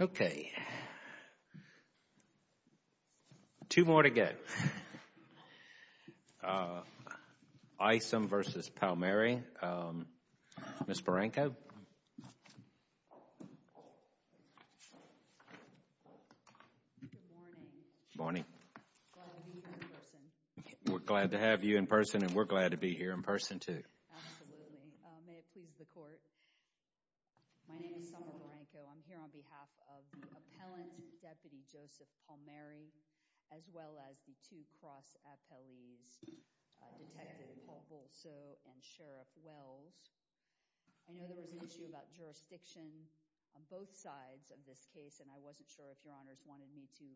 Okay. Two more to go. Isom v. Palmeri. Ms. Boranko. Good morning. Good morning. Glad to be here in person. We're glad to have you in person and we're glad to be here in person too. Absolutely. May it please the court. My name is Summer Boranko. I'm here on behalf of the appellant, Deputy Joseph Palmeri, as well as the two cross appellees, Detective Paul Bulso and Sheriff Wells. I know there was an issue about jurisdiction on both sides of this case, and I wasn't sure if your honors wanted me to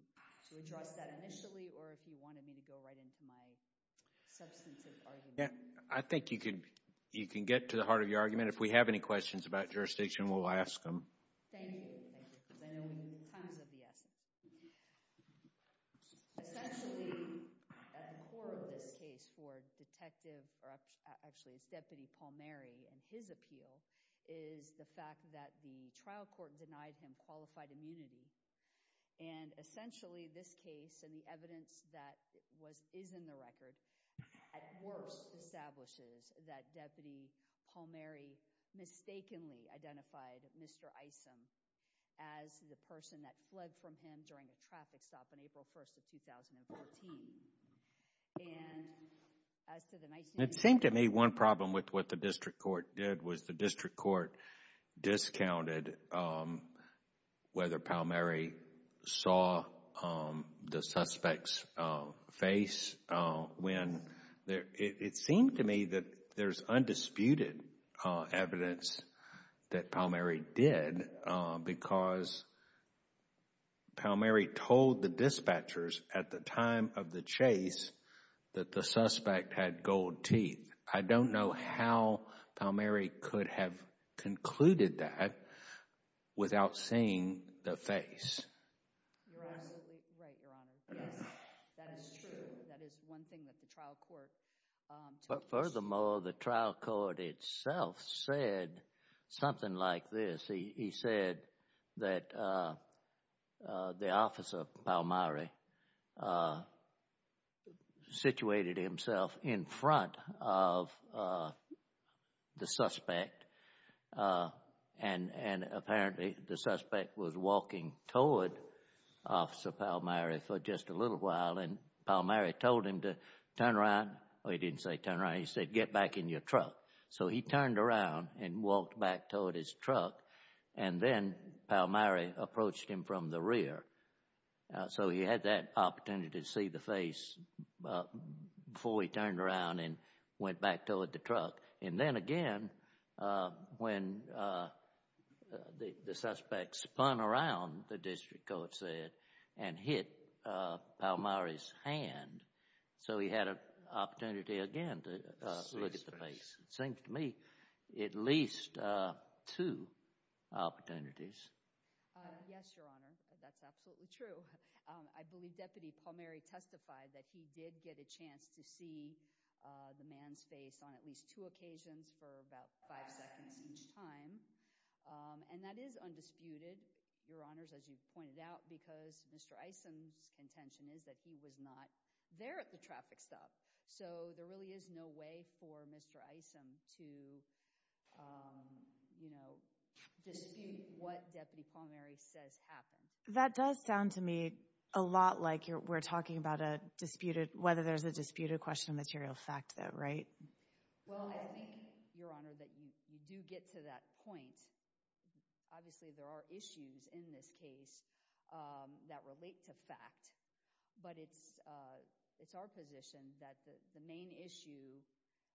address that initially or if you wanted me to go right into my substantive argument. I think you can get to the heart of your argument. If we have any questions about jurisdiction, we'll ask them. Thank you. Thank you. I know time is of the essence. Essentially, at the core of this case for Detective, or actually it's Deputy Paul Palmeri and his appeal, is the fact that the trial court denied him qualified immunity. Essentially, this case and the evidence that is in the record at worst establishes that Deputy Palmeri mistakenly identified Mr. Isom as the person that fled from him during a traffic stop on April 1st of 2014. It seemed to me one problem with what the district court did was the district court discounted whether Palmeri saw the suspect's face. It seemed to me that there's undisputed evidence that Palmeri did because Palmeri told the dispatchers at the time of the chase that the suspect had gold teeth. I don't know how Palmeri could have concluded that without seeing the face. You're absolutely right, Your Honor. Yes, that is true. That is one thing that the trial court told us. Furthermore, the trial court itself said something like this. He said that the officer, Palmeri, situated himself in front of the suspect and apparently the suspect was walking toward Officer Palmeri for just a little while. Palmeri told him to turn around. He didn't say turn around. He said, get back in your truck. He turned around and walked back toward his truck and then Palmeri approached him from the rear. He had that opportunity to see the face before he turned around and went back toward the truck. Then again, when the suspect spun around, the district court said, and hit Palmeri's hand, so he had an opportunity again to look at the face. It seems to me at least two opportunities. Yes, Your Honor. That's absolutely true. I believe Deputy Palmeri testified that he did get a chance to see the man's face on at least two occasions for about five seconds each time. That is undisputed, Your Honors, as you pointed out, because Mr. Isom's contention is that he was not there at the traffic stop. There really is no way for Mr. Isom to dispute what Deputy Palmeri says happened. That does sound to me a lot like we're talking about whether there's a disputed question of material fact, though, right? Well, I think, Your Honor, that you do get to that point. Obviously, there are issues in this case that relate to fact. But it's our position that the main issue,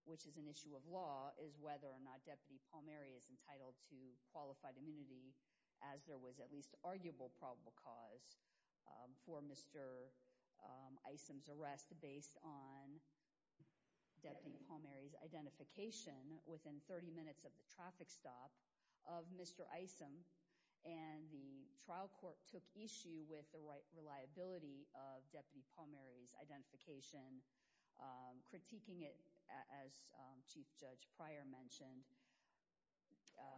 which is an issue of law, is whether or not Deputy Palmeri is entitled to qualified immunity, as there was at least arguable probable cause for Mr. Isom's arrest based on Deputy Palmeri's identification within 30 minutes of the traffic stop of Mr. Isom. And the trial court took issue with the reliability of Deputy Palmeri's identification, critiquing it, as Chief Judge Pryor mentioned,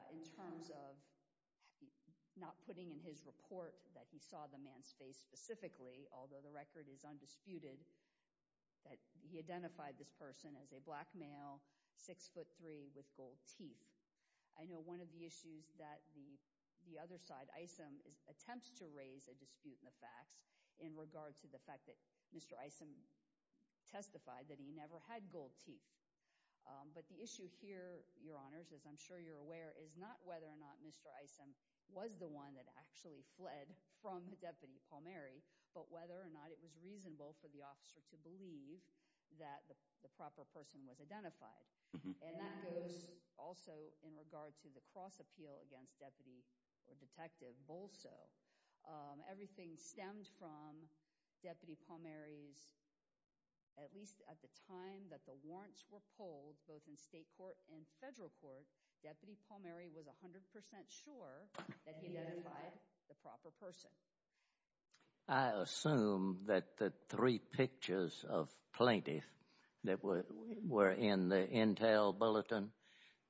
in terms of not putting in his report that he saw the man's face specifically, although the record is undisputed, that he identified this person as a black male, 6'3", with gold teeth. I know one of the issues that the other side, Isom, attempts to raise a dispute in the facts in regard to the fact that Mr. Isom testified that he never had gold teeth. But the issue here, Your Honors, as I'm sure you're aware, is not whether or not Mr. Isom was the one that actually fled from Deputy Palmeri, but whether or not it was reasonable for the officer to believe that the proper person was identified. And that goes also in regard to the cross-appeal against Deputy or Detective Bolso. Everything stemmed from Deputy Palmeri's, at least at the time that the warrants were pulled, both in state court and federal court, Deputy Palmeri was 100% sure that he identified the proper person. I assume that the three pictures of plaintiff that were in the Intel bulletin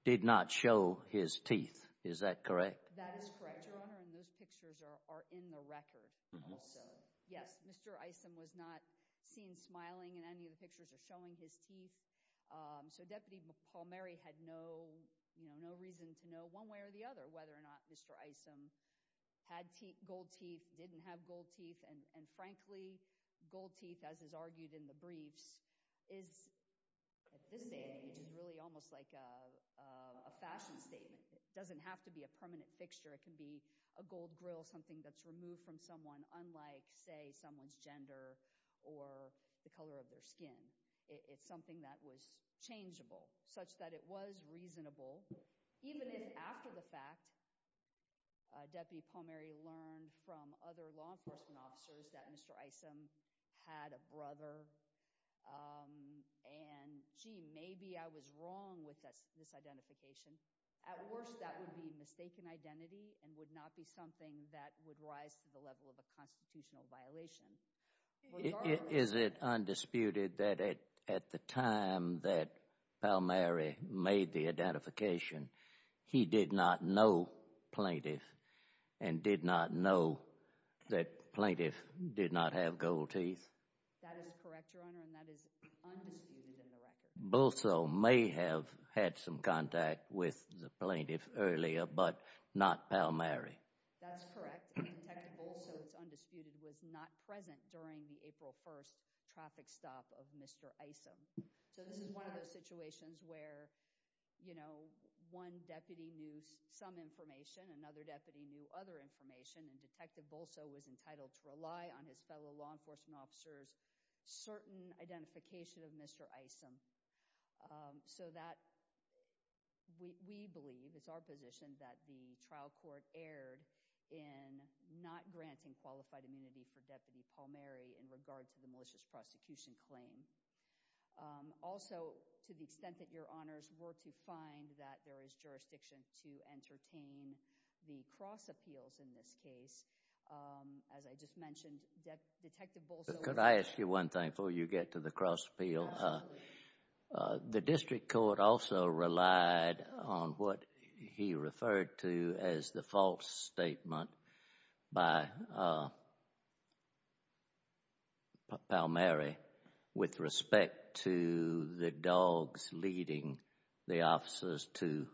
did not show his teeth. Is that correct? That is correct, Your Honor, and those pictures are in the record. Yes, Mr. Isom was not seen smiling in any of the pictures or showing his teeth. So Deputy Palmeri had no, you know, no reason to know one way or the other whether or not Mr. Isom had gold teeth, didn't have gold teeth. And frankly, gold teeth, as is argued in the briefs, is, at this age, is really almost like a fashion statement. It doesn't have to be a permanent fixture. It can be a gold grill, something that's removed from someone, unlike, say, someone's gender or the color of their skin. It's something that was changeable, such that it was reasonable, even if, after the fact, Deputy Palmeri learned from other law enforcement officers that Mr. Isom had a brother and, gee, maybe I was wrong with this identification. At worst, that would be a mistaken identity and would not be something that would rise to the level of a constitutional violation. Is it undisputed that at the time that Palmeri made the identification, he did not know plaintiff and did not know that plaintiff did not have gold teeth? That is correct, Your Honor, and that is undisputed in the record. Bolso may have had some contact with the plaintiff earlier, but not Palmeri. That's correct, and Detective Bolso, it's undisputed, was not present during the April 1st traffic stop of Mr. Isom. This is one of those situations where one deputy knew some information, another deputy knew other information, and Detective Bolso was entitled to rely on his fellow law enforcement officers' certain identification of Mr. Isom. So that, we believe, it's our position that the trial court erred in not granting qualified immunity for Deputy Palmeri in regard to the malicious prosecution claim. Also, to the extent that Your Honors were to find that there is jurisdiction to entertain the cross appeals in this case, as I just mentioned, Detective Bolso— Could I ask you one thing before you get to the cross appeal? Absolutely. The district court also relied on what he referred to as the false statement by Palmeri with respect to the dogs leading the officers to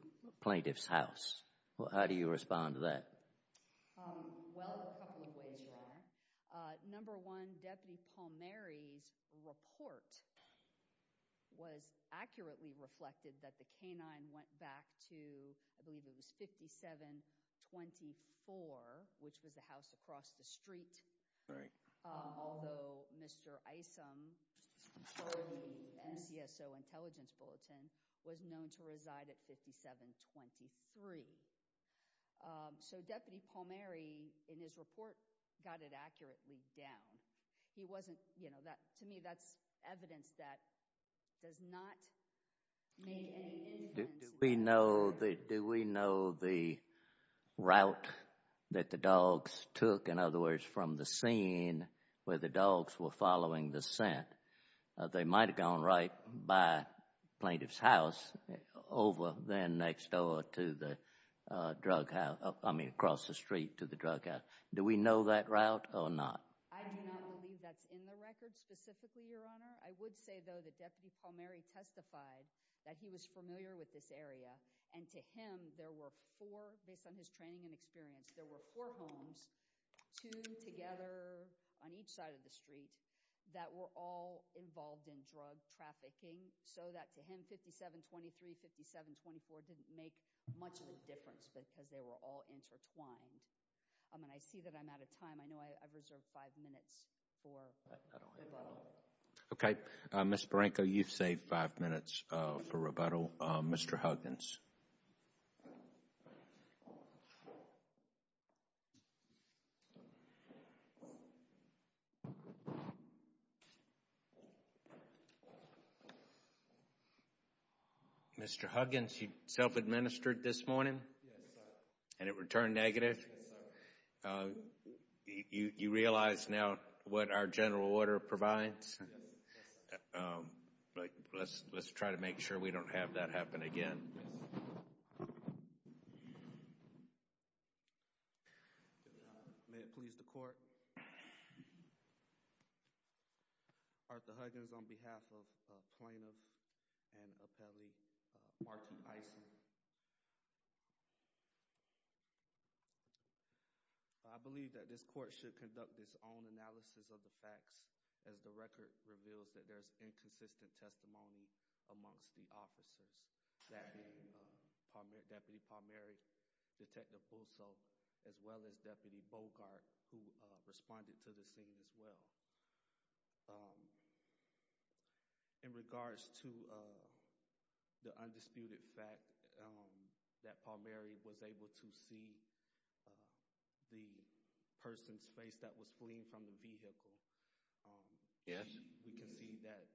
plaintiff's house. How do you respond to that? Well, a couple of ways, Your Honor. Number one, Deputy Palmeri's report was accurately reflected that the canine went back to, I believe it was 5724, which was the house across the street. Right. Although Mr. Isom, according to the NCSO Intelligence Bulletin, was known to reside at 5723. So Deputy Palmeri, in his report, got it accurately down. He wasn't—to me, that's evidence that does not make any sense. Do we know the route that the dogs took, in other words, from the scene where the dogs were following the scent? They might have gone right by plaintiff's house, over then next door to the drug house—I mean across the street to the drug house. Do we know that route or not? I do not believe that's in the record specifically, Your Honor. I would say, though, that Deputy Palmeri testified that he was familiar with this area. And to him, there were four—based on his training and experience, there were four homes, two together on each side of the street, that were all involved in drug trafficking. So that, to him, 5723, 5724 didn't make much of a difference because they were all intertwined. And I see that I'm out of time. I know I've reserved five minutes for rebuttal. Okay. Ms. Barranco, you've saved five minutes for rebuttal. Mr. Huggins. Mr. Huggins, you self-administered this morning? Yes, sir. And it returned negative? Yes, sir. You realize now what our general order provides? Yes, sir. Let's try to make sure we don't have that happen again. May it please the Court. Thank you. Arthur Huggins on behalf of Plaintiff and Appellee Marty Isen. I believe that this Court should conduct its own analysis of the facts as the record reveals that there is inconsistent testimony amongst the officers, that being Deputy Palmeri, Detective Pulso, as well as Deputy Bogart, who responded to the scene as well. In regards to the undisputed fact that Palmeri was able to see the person's face that was fleeing from the vehicle, we can see that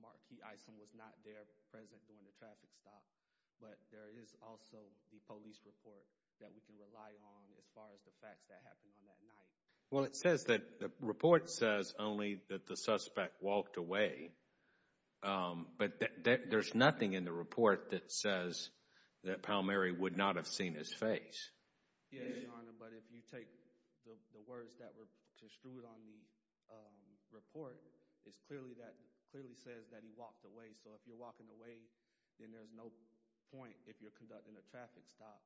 Markey Isen was not there present during the traffic stop, but there is also the police report that we can rely on as far as the facts that happened on that night. Well, it says that the report says only that the suspect walked away, but there's nothing in the report that says that Palmeri would not have seen his face. Yes, Your Honor, but if you take the words that were construed on the report, it clearly says that he walked away. So if you're walking away, then there's no point if you're conducting a traffic stop.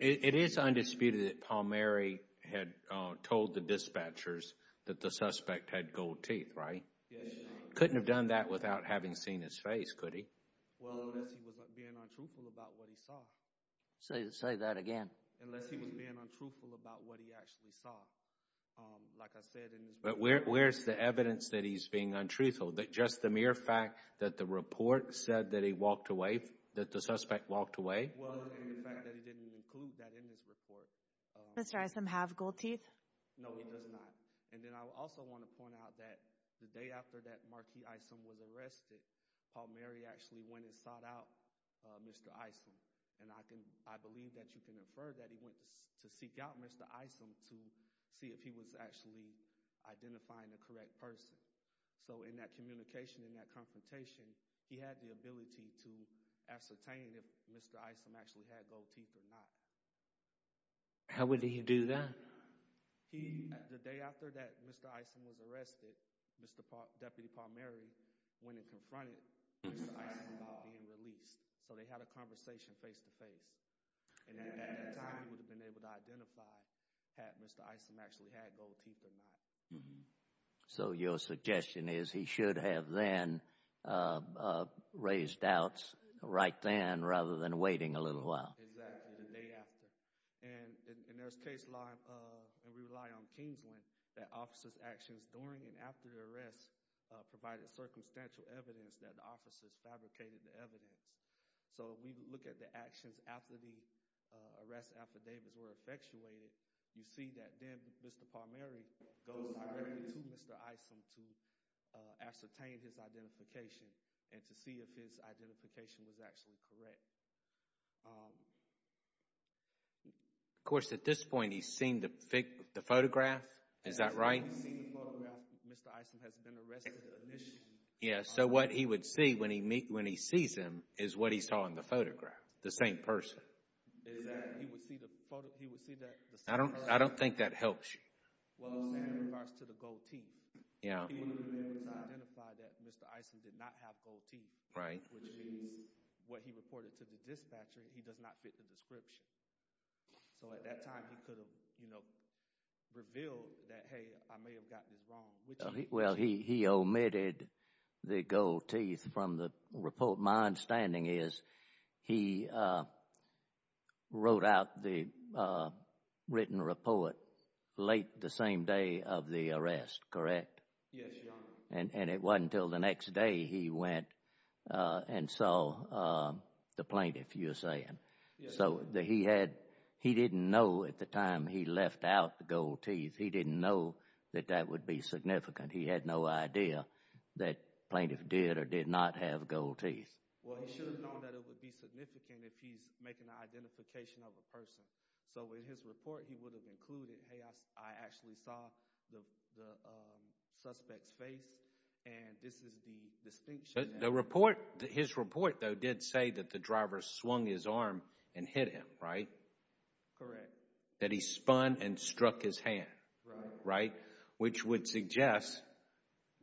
It is undisputed that Palmeri had told the dispatchers that the suspect had gold teeth, right? Yes, Your Honor. Couldn't have done that without having seen his face, could he? Well, unless he was being untruthful about what he saw. Say that again. Unless he was being untruthful about what he actually saw. Like I said in his report. But where's the evidence that he's being untruthful? Just the mere fact that the report said that he walked away, that the suspect walked away? Well, and the fact that he didn't include that in his report. Does Mr. Isom have gold teeth? No, he does not. And then I also want to point out that the day after that Marquis Isom was arrested, Palmeri actually went and sought out Mr. Isom. And I believe that you can infer that he went to seek out Mr. Isom to see if he was actually identifying the correct person. So in that communication, in that confrontation, he had the ability to ascertain if Mr. Isom actually had gold teeth or not. How would he do that? The day after that Mr. Isom was arrested, Deputy Palmeri went and confronted Mr. Isom about being released. So they had a conversation face to face. And at that time he would have been able to identify had Mr. Isom actually had gold teeth or not. So your suggestion is he should have then raised doubts right then rather than waiting a little while. Exactly, the day after. And there's case law, and we rely on Kingsland, that officers' actions during and after the arrest provided circumstantial evidence that the officers fabricated the evidence. So if we look at the actions after the arrest affidavits were effectuated, you see that then Mr. Palmeri goes directly to Mr. Isom to ascertain his identification and to see if his identification was actually correct. Of course, at this point he's seen the photograph, is that right? He's seen the photograph. Mr. Isom has been arrested initially. Yes, so what he would see when he sees him is what he saw in the photograph, the same person. Is that he would see the photograph? I don't think that helps you. Well, in regards to the gold teeth, he was able to identify that Mr. Isom did not have gold teeth. Right. Which means what he reported to the dispatcher, he does not fit the description. So at that time he could have revealed that, hey, I may have got this wrong. Well, he omitted the gold teeth from the report. My understanding is he wrote out the written report late the same day of the arrest, correct? Yes, Your Honor. And it wasn't until the next day he went and saw the plaintiff, you're saying. So he didn't know at the time he left out the gold teeth. He didn't know that that would be significant. He had no idea that plaintiff did or did not have gold teeth. Well, he should have known that it would be significant if he's making an identification of a person. So in his report he would have included, hey, I actually saw the suspect's face, and this is the distinction. His report, though, did say that the driver swung his arm and hit him, right? Correct. That he spun and struck his hand, right, which would suggest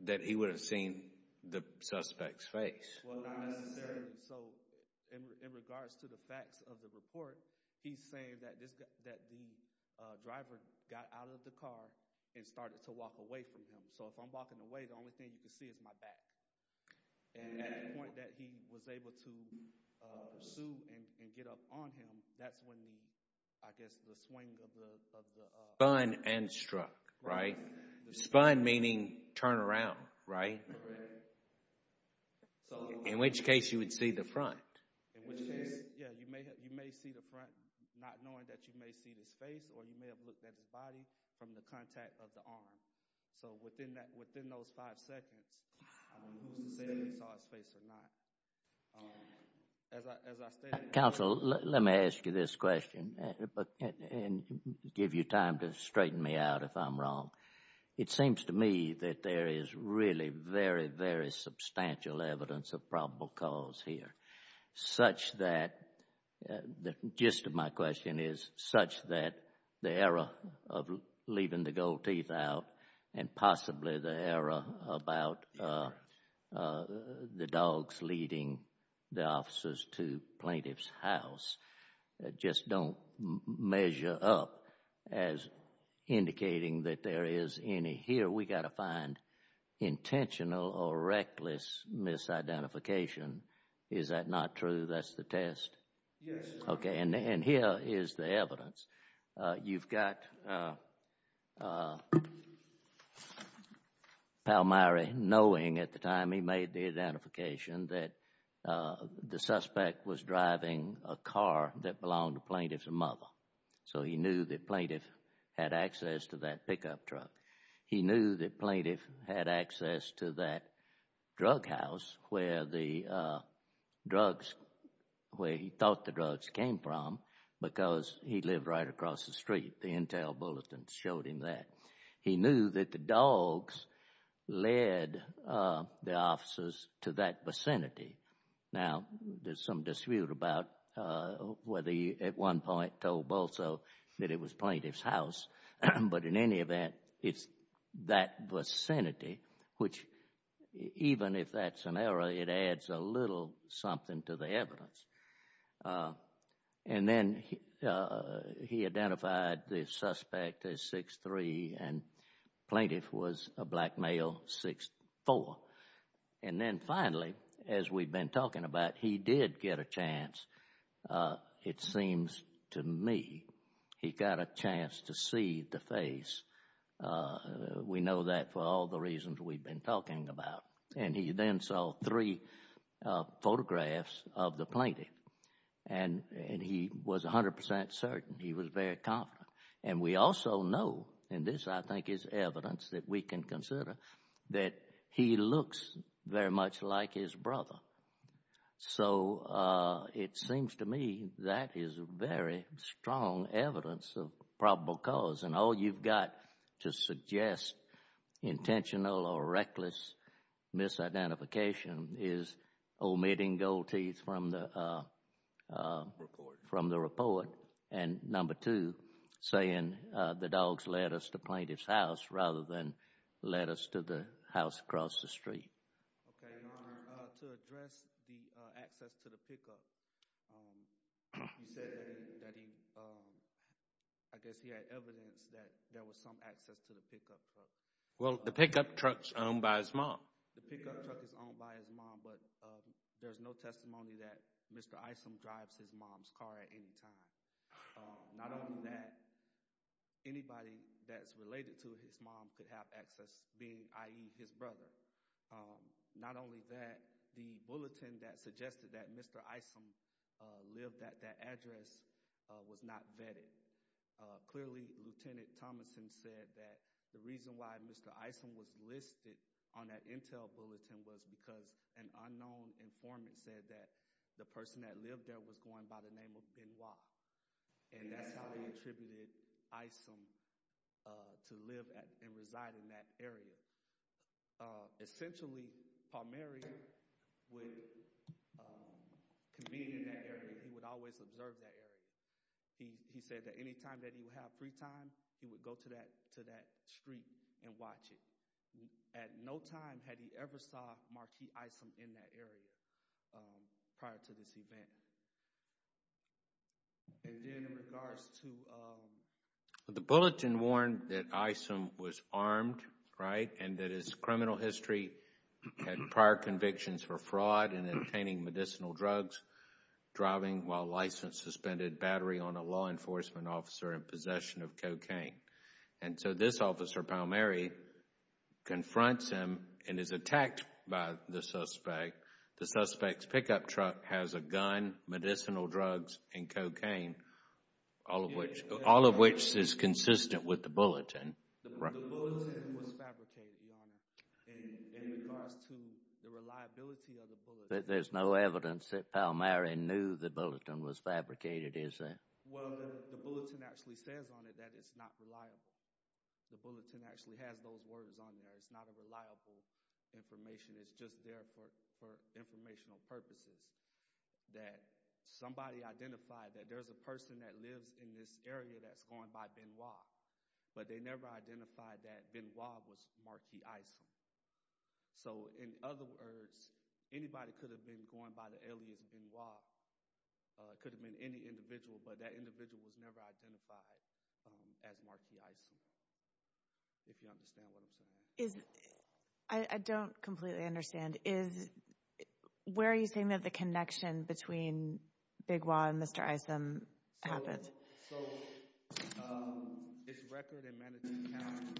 that he would have seen the suspect's face. Well, not necessarily so. In regards to the facts of the report, he's saying that the driver got out of the car and started to walk away from him. So if I'm walking away, the only thing you can see is my back. And at the point that he was able to pursue and get up on him, that's when I guess the swing of the- Spun and struck, right? Spun meaning turn around, right? Correct. In which case you would see the front. In which case, yeah, you may see the front not knowing that you may see his face or you may have looked at his body from the contact of the arm. So within those five seconds, I don't know who's to say that they saw his face or not. As I stated- Counsel, let me ask you this question and give you time to straighten me out if I'm wrong. It seems to me that there is really very, very substantial evidence of probable cause here, such that- and possibly the error about the dogs leading the officers to plaintiff's house just don't measure up as indicating that there is any. Here we've got to find intentional or reckless misidentification. Is that not true? That's the test? Okay, and here is the evidence. You've got Palmyra knowing at the time he made the identification that the suspect was driving a car that belonged to plaintiff's mother. So he knew that plaintiff had access to that pickup truck. He knew that plaintiff had access to that drug house where the drugs, where he thought the drugs came from because he lived right across the street. The intel bulletin showed him that. He knew that the dogs led the officers to that vicinity. Now, there's some dispute about whether he at one point told Bolso that it was plaintiff's house. But in any event, it's that vicinity, which even if that's an error, it adds a little something to the evidence. And then he identified the suspect as 6'3", and plaintiff was a black male, 6'4". And then finally, as we've been talking about, he did get a chance, it seems to me, he got a chance to see the face. We know that for all the reasons we've been talking about. And he then saw three photographs of the plaintiff, and he was 100% certain. He was very confident. And we also know, and this I think is evidence that we can consider, that he looks very much like his brother. So it seems to me that is very strong evidence of probable cause. And all you've got to suggest intentional or reckless misidentification is omitting gold teeth from the report. And number two, saying the dogs led us to plaintiff's house rather than led us to the house across the street. Okay. Your Honor, to address the access to the pickup, you said that he, I guess he had evidence that there was some access to the pickup truck. Well, the pickup truck's owned by his mom. The pickup truck is owned by his mom, but there's no testimony that Mr. Isom drives his mom's car at any time. Not only that, anybody that's related to his mom could have access, i.e., his brother. Not only that, the bulletin that suggested that Mr. Isom lived at that address was not vetted. Clearly, Lieutenant Thomason said that the reason why Mr. Isom was listed on that intel bulletin was because an unknown informant said that the person that lived there was going by the name of Benoit. And that's how he attributed Isom to live and reside in that area. Essentially, Palmieri would convene in that area. He would always observe that area. He said that any time that he would have free time, he would go to that street and watch it. At no time had he ever saw Marquis Isom in that area prior to this event. And then in regards to— The bulletin warned that Isom was armed, right, and that his criminal history had prior convictions for fraud in obtaining medicinal drugs, driving while licensed suspended battery on a law enforcement officer in possession of cocaine. And so this officer, Palmieri, confronts him and is attacked by the suspect. The suspect's pickup truck has a gun, medicinal drugs, and cocaine, all of which is consistent with the bulletin. The bulletin was fabricated, Your Honor, in regards to the reliability of the bulletin. But there's no evidence that Palmieri knew the bulletin was fabricated, is there? Well, the bulletin actually says on it that it's not reliable. The bulletin actually has those words on there. It's not a reliable information. It's just there for informational purposes that somebody identified that there's a person that lives in this area that's going by Benoit, but they never identified that Benoit was Marquis Isom. So in other words, anybody could have been going by the alias Benoit. It could have been any individual, but that individual was never identified as Marquis Isom, if you understand what I'm saying. I don't completely understand. Where are you saying that the connection between Benoit and Mr. Isom happens? So, it's record in Manatee County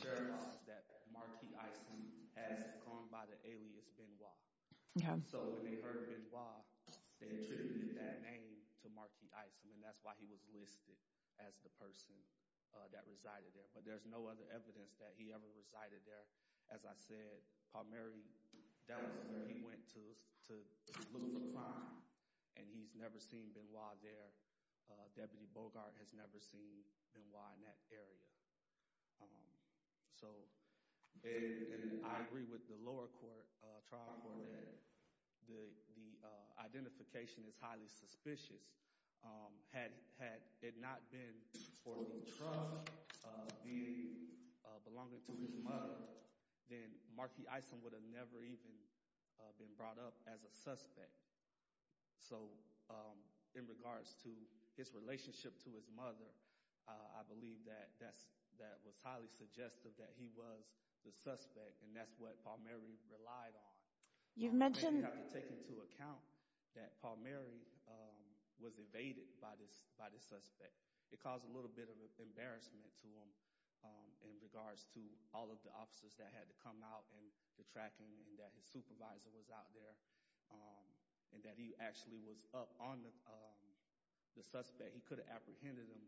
Sheriff's Office that Marquis Isom has gone by the alias Benoit. So when they heard Benoit, they attributed that name to Marquis Isom, and that's why he was listed as the person that resided there. But there's no other evidence that he ever resided there. As I said, Palmieri, that was where he went to look for crime, and he's never seen Benoit there. Deputy Bogart has never seen Benoit in that area. So I agree with the lower trial court that the identification is highly suspicious. Had it not been for the trunk belonging to his mother, then Marquis Isom would have never even been brought up as a suspect. So in regards to his relationship to his mother, I believe that was highly suggestive that he was the suspect, and that's what Palmieri relied on. You have to take into account that Palmieri was evaded by the suspect. It caused a little bit of embarrassment to him in regards to all of the officers that had to come out and the tracking, and that his supervisor was out there, and that he actually was up on the suspect. He could have apprehended him,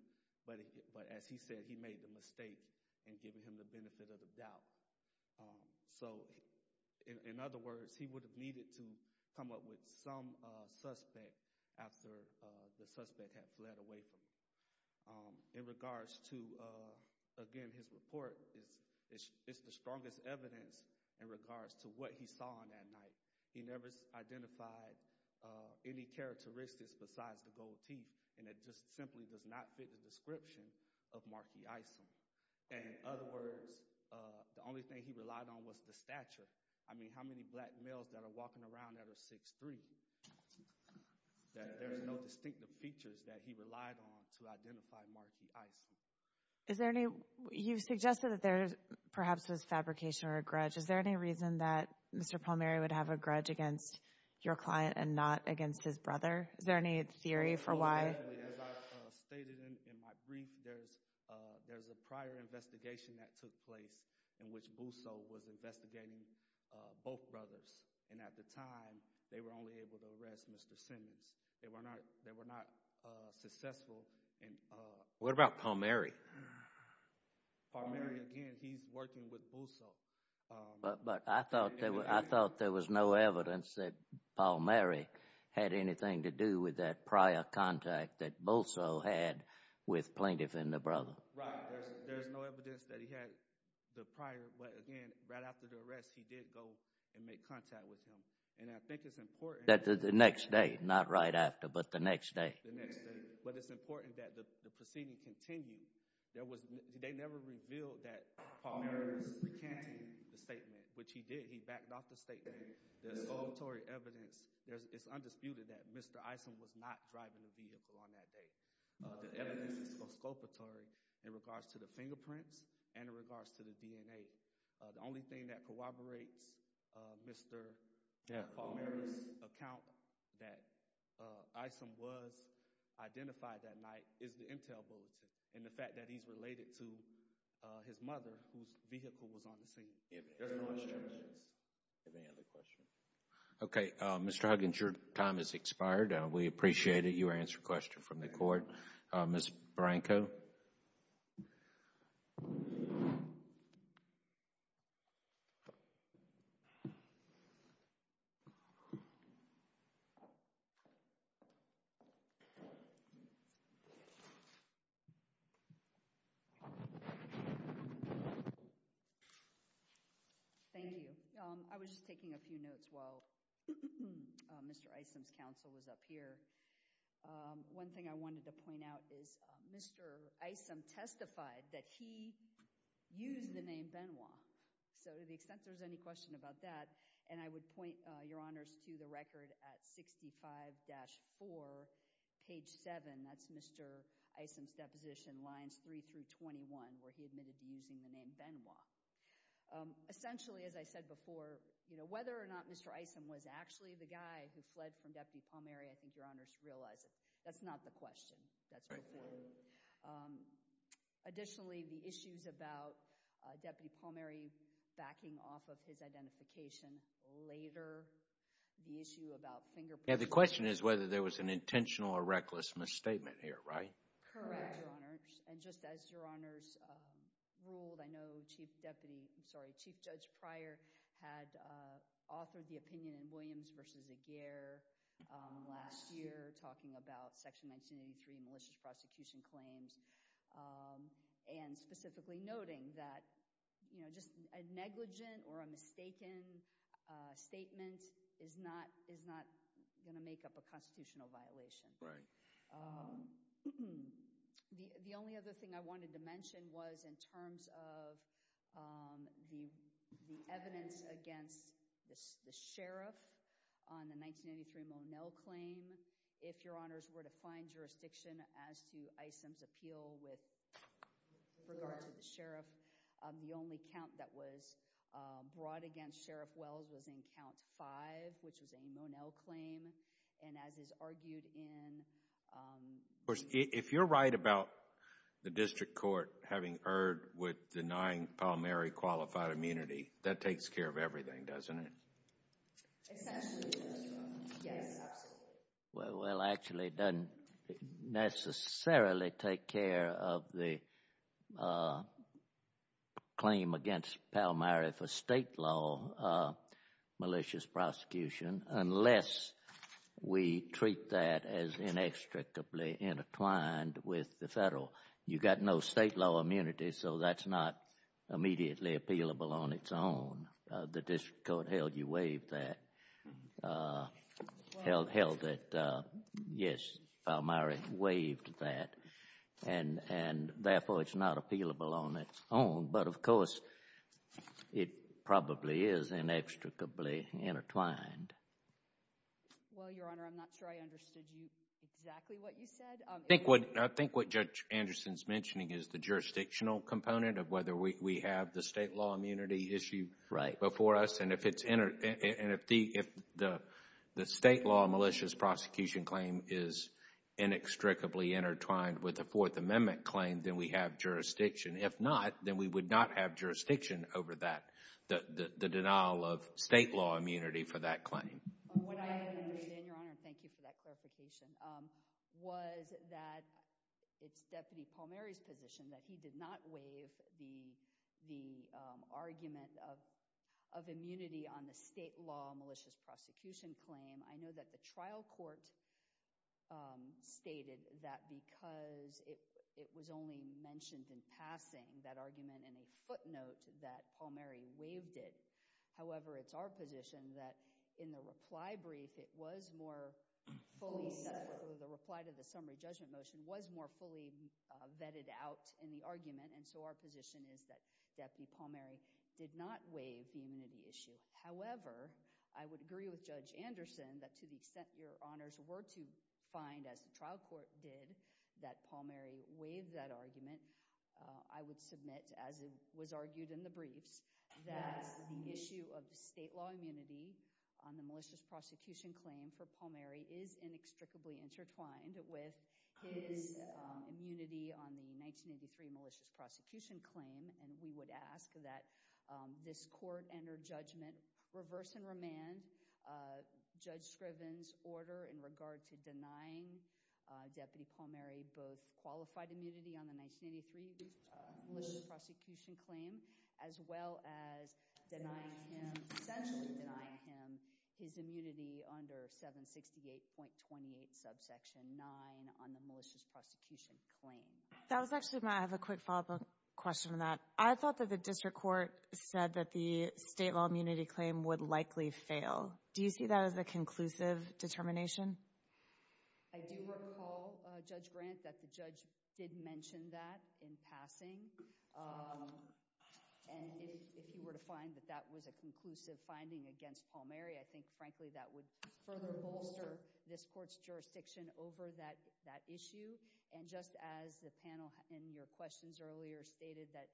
but as he said, he made the mistake in giving him the benefit of the doubt. So in other words, he would have needed to come up with some suspect after the suspect had fled away from him. In regards to, again, his report, it's the strongest evidence in regards to what he saw on that night. He never identified any characteristics besides the gold teeth, and it just simply does not fit the description of Marquis Isom. In other words, the only thing he relied on was the stature. I mean, how many black males that are walking around that are 6'3"? There's no distinctive features that he relied on to identify Marquis Isom. You've suggested that there perhaps was fabrication or a grudge. Is there any reason that Mr. Palmieri would have a grudge against your client and not against his brother? Is there any theory for why? As I stated in my brief, there's a prior investigation that took place in which Bousso was investigating both brothers, and at the time, they were only able to arrest Mr. Simmons. They were not successful in— What about Palmieri? Palmieri, again, he's working with Bousso. But I thought there was no evidence that Palmieri had anything to do with that prior contact that Bousso had with Plaintiff and the brother. Right. There's no evidence that he had the prior—but again, right after the arrest, he did go and make contact with him. And I think it's important— The next day, not right after, but the next day. The next day. But it's important that the proceeding continue. They never revealed that Palmieri was recanting the statement, which he did. He backed off the statement. The exculpatory evidence—it's undisputed that Mr. Isom was not driving the vehicle on that day. The evidence is exculpatory in regards to the fingerprints and in regards to the DNA. The only thing that corroborates Mr. Palmieri's account that Isom was identified that night is the intel bulletin and the fact that he's related to his mother, whose vehicle was on the scene. There's no exceptions. Any other questions? Okay. Mr. Huggins, your time has expired. We appreciate it. You were answered a question from the court. Ms. Branco? Thank you. I was just taking a few notes while Mr. Isom's counsel was up here. One thing I wanted to point out is Mr. Isom testified that he used the name Benoit. So to the extent there's any question about that—and I would point your honors to the record at 65-4, page 7. That's Mr. Isom's deposition, lines 3 through 21, where he admitted to using the name Benoit. Essentially, as I said before, whether or not Mr. Isom was actually the guy who fled from Deputy Palmieri, I think your honors realize that's not the question. Additionally, the issues about Deputy Palmieri backing off of his identification later, the issue about fingerprints— The question is whether there was an intentional or reckless misstatement here, right? Correct, your honors. And just as your honors ruled, I know Chief Judge Pryor had authored the opinion in Williams v. Aguirre last year talking about Section 1983 malicious prosecution claims and specifically noting that just a negligent or a mistaken statement is not going to make up a constitutional violation. Right. The only other thing I wanted to mention was in terms of the evidence against the sheriff on the 1983 Monel claim. If your honors were to find jurisdiction as to Isom's appeal with regard to the sheriff, the only count that was brought against Sheriff Wells was in Count 5, which was a Monel claim. And as is argued in— Of course, if you're right about the district court having erred with denying Palmieri qualified immunity, that takes care of everything, doesn't it? Essentially, yes. Yes, absolutely. Well, actually, it doesn't necessarily take care of the claim against Palmieri for State law malicious prosecution unless we treat that as inextricably intertwined with the Federal. You've got no State law immunity, so that's not immediately appealable on its own. The district court held you waived that. Held that, yes, Palmieri waived that, and therefore it's not appealable on its own. But, of course, it probably is inextricably intertwined. Well, Your Honor, I'm not sure I understood exactly what you said. I think what Judge Anderson's mentioning is the jurisdictional component of whether we have the State law immunity issue. Right. And if the State law malicious prosecution claim is inextricably intertwined with a Fourth Amendment claim, then we have jurisdiction. If not, then we would not have jurisdiction over that, the denial of State law immunity for that claim. What I understand, Your Honor, and thank you for that clarification, was that it's Deputy Palmieri's position that he did not waive the argument of immunity on the State law malicious prosecution claim. I know that the trial court stated that because it was only mentioned in passing, that argument in a footnote, that Palmieri waived it. However, it's our position that in the reply brief, it was more fully set, or the reply to the summary judgment motion was more fully vetted out in the argument, and so our position is that Deputy Palmieri did not waive the immunity issue. However, I would agree with Judge Anderson that to the extent Your Honors were to find, as the trial court did, that Palmieri waived that argument, I would submit, as it was argued in the briefs, that the issue of the State law immunity on the malicious prosecution claim for Palmieri is inextricably intertwined with his immunity on the 1983 malicious prosecution claim, and we would ask that this court enter judgment, reverse and remand Judge Scriven's order in regard to denying Deputy Palmieri both qualified immunity on the 1983 malicious prosecution claim, as well as essentially denying him his immunity under 768.28 subsection 9 on the malicious prosecution claim. That was actually, I have a quick follow-up question on that. I thought that the district court said that the State law immunity claim would likely fail. Do you see that as a conclusive determination? I do recall, Judge Grant, that the judge did mention that in passing. And if you were to find that that was a conclusive finding against Palmieri, I think, frankly, that would further bolster this court's jurisdiction over that issue. And just as the panel in your questions earlier stated that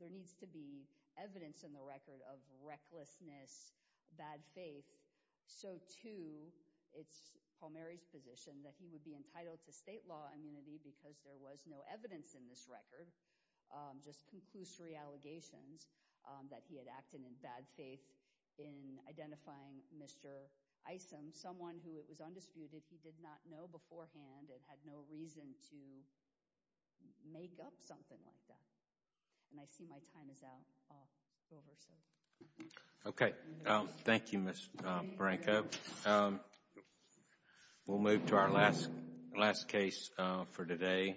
there needs to be evidence in the record of recklessness, bad faith, so too it's Palmieri's position that he would be entitled to State law immunity because there was no evidence in this record, just conclusory allegations, that he had acted in bad faith in identifying Mr. Isom, someone who it was undisputed, he did not know beforehand and had no reason to make up something like that. And I see my time is out. I'll go over. Okay. Thank you, Ms. Branko. We'll move to our last case for today.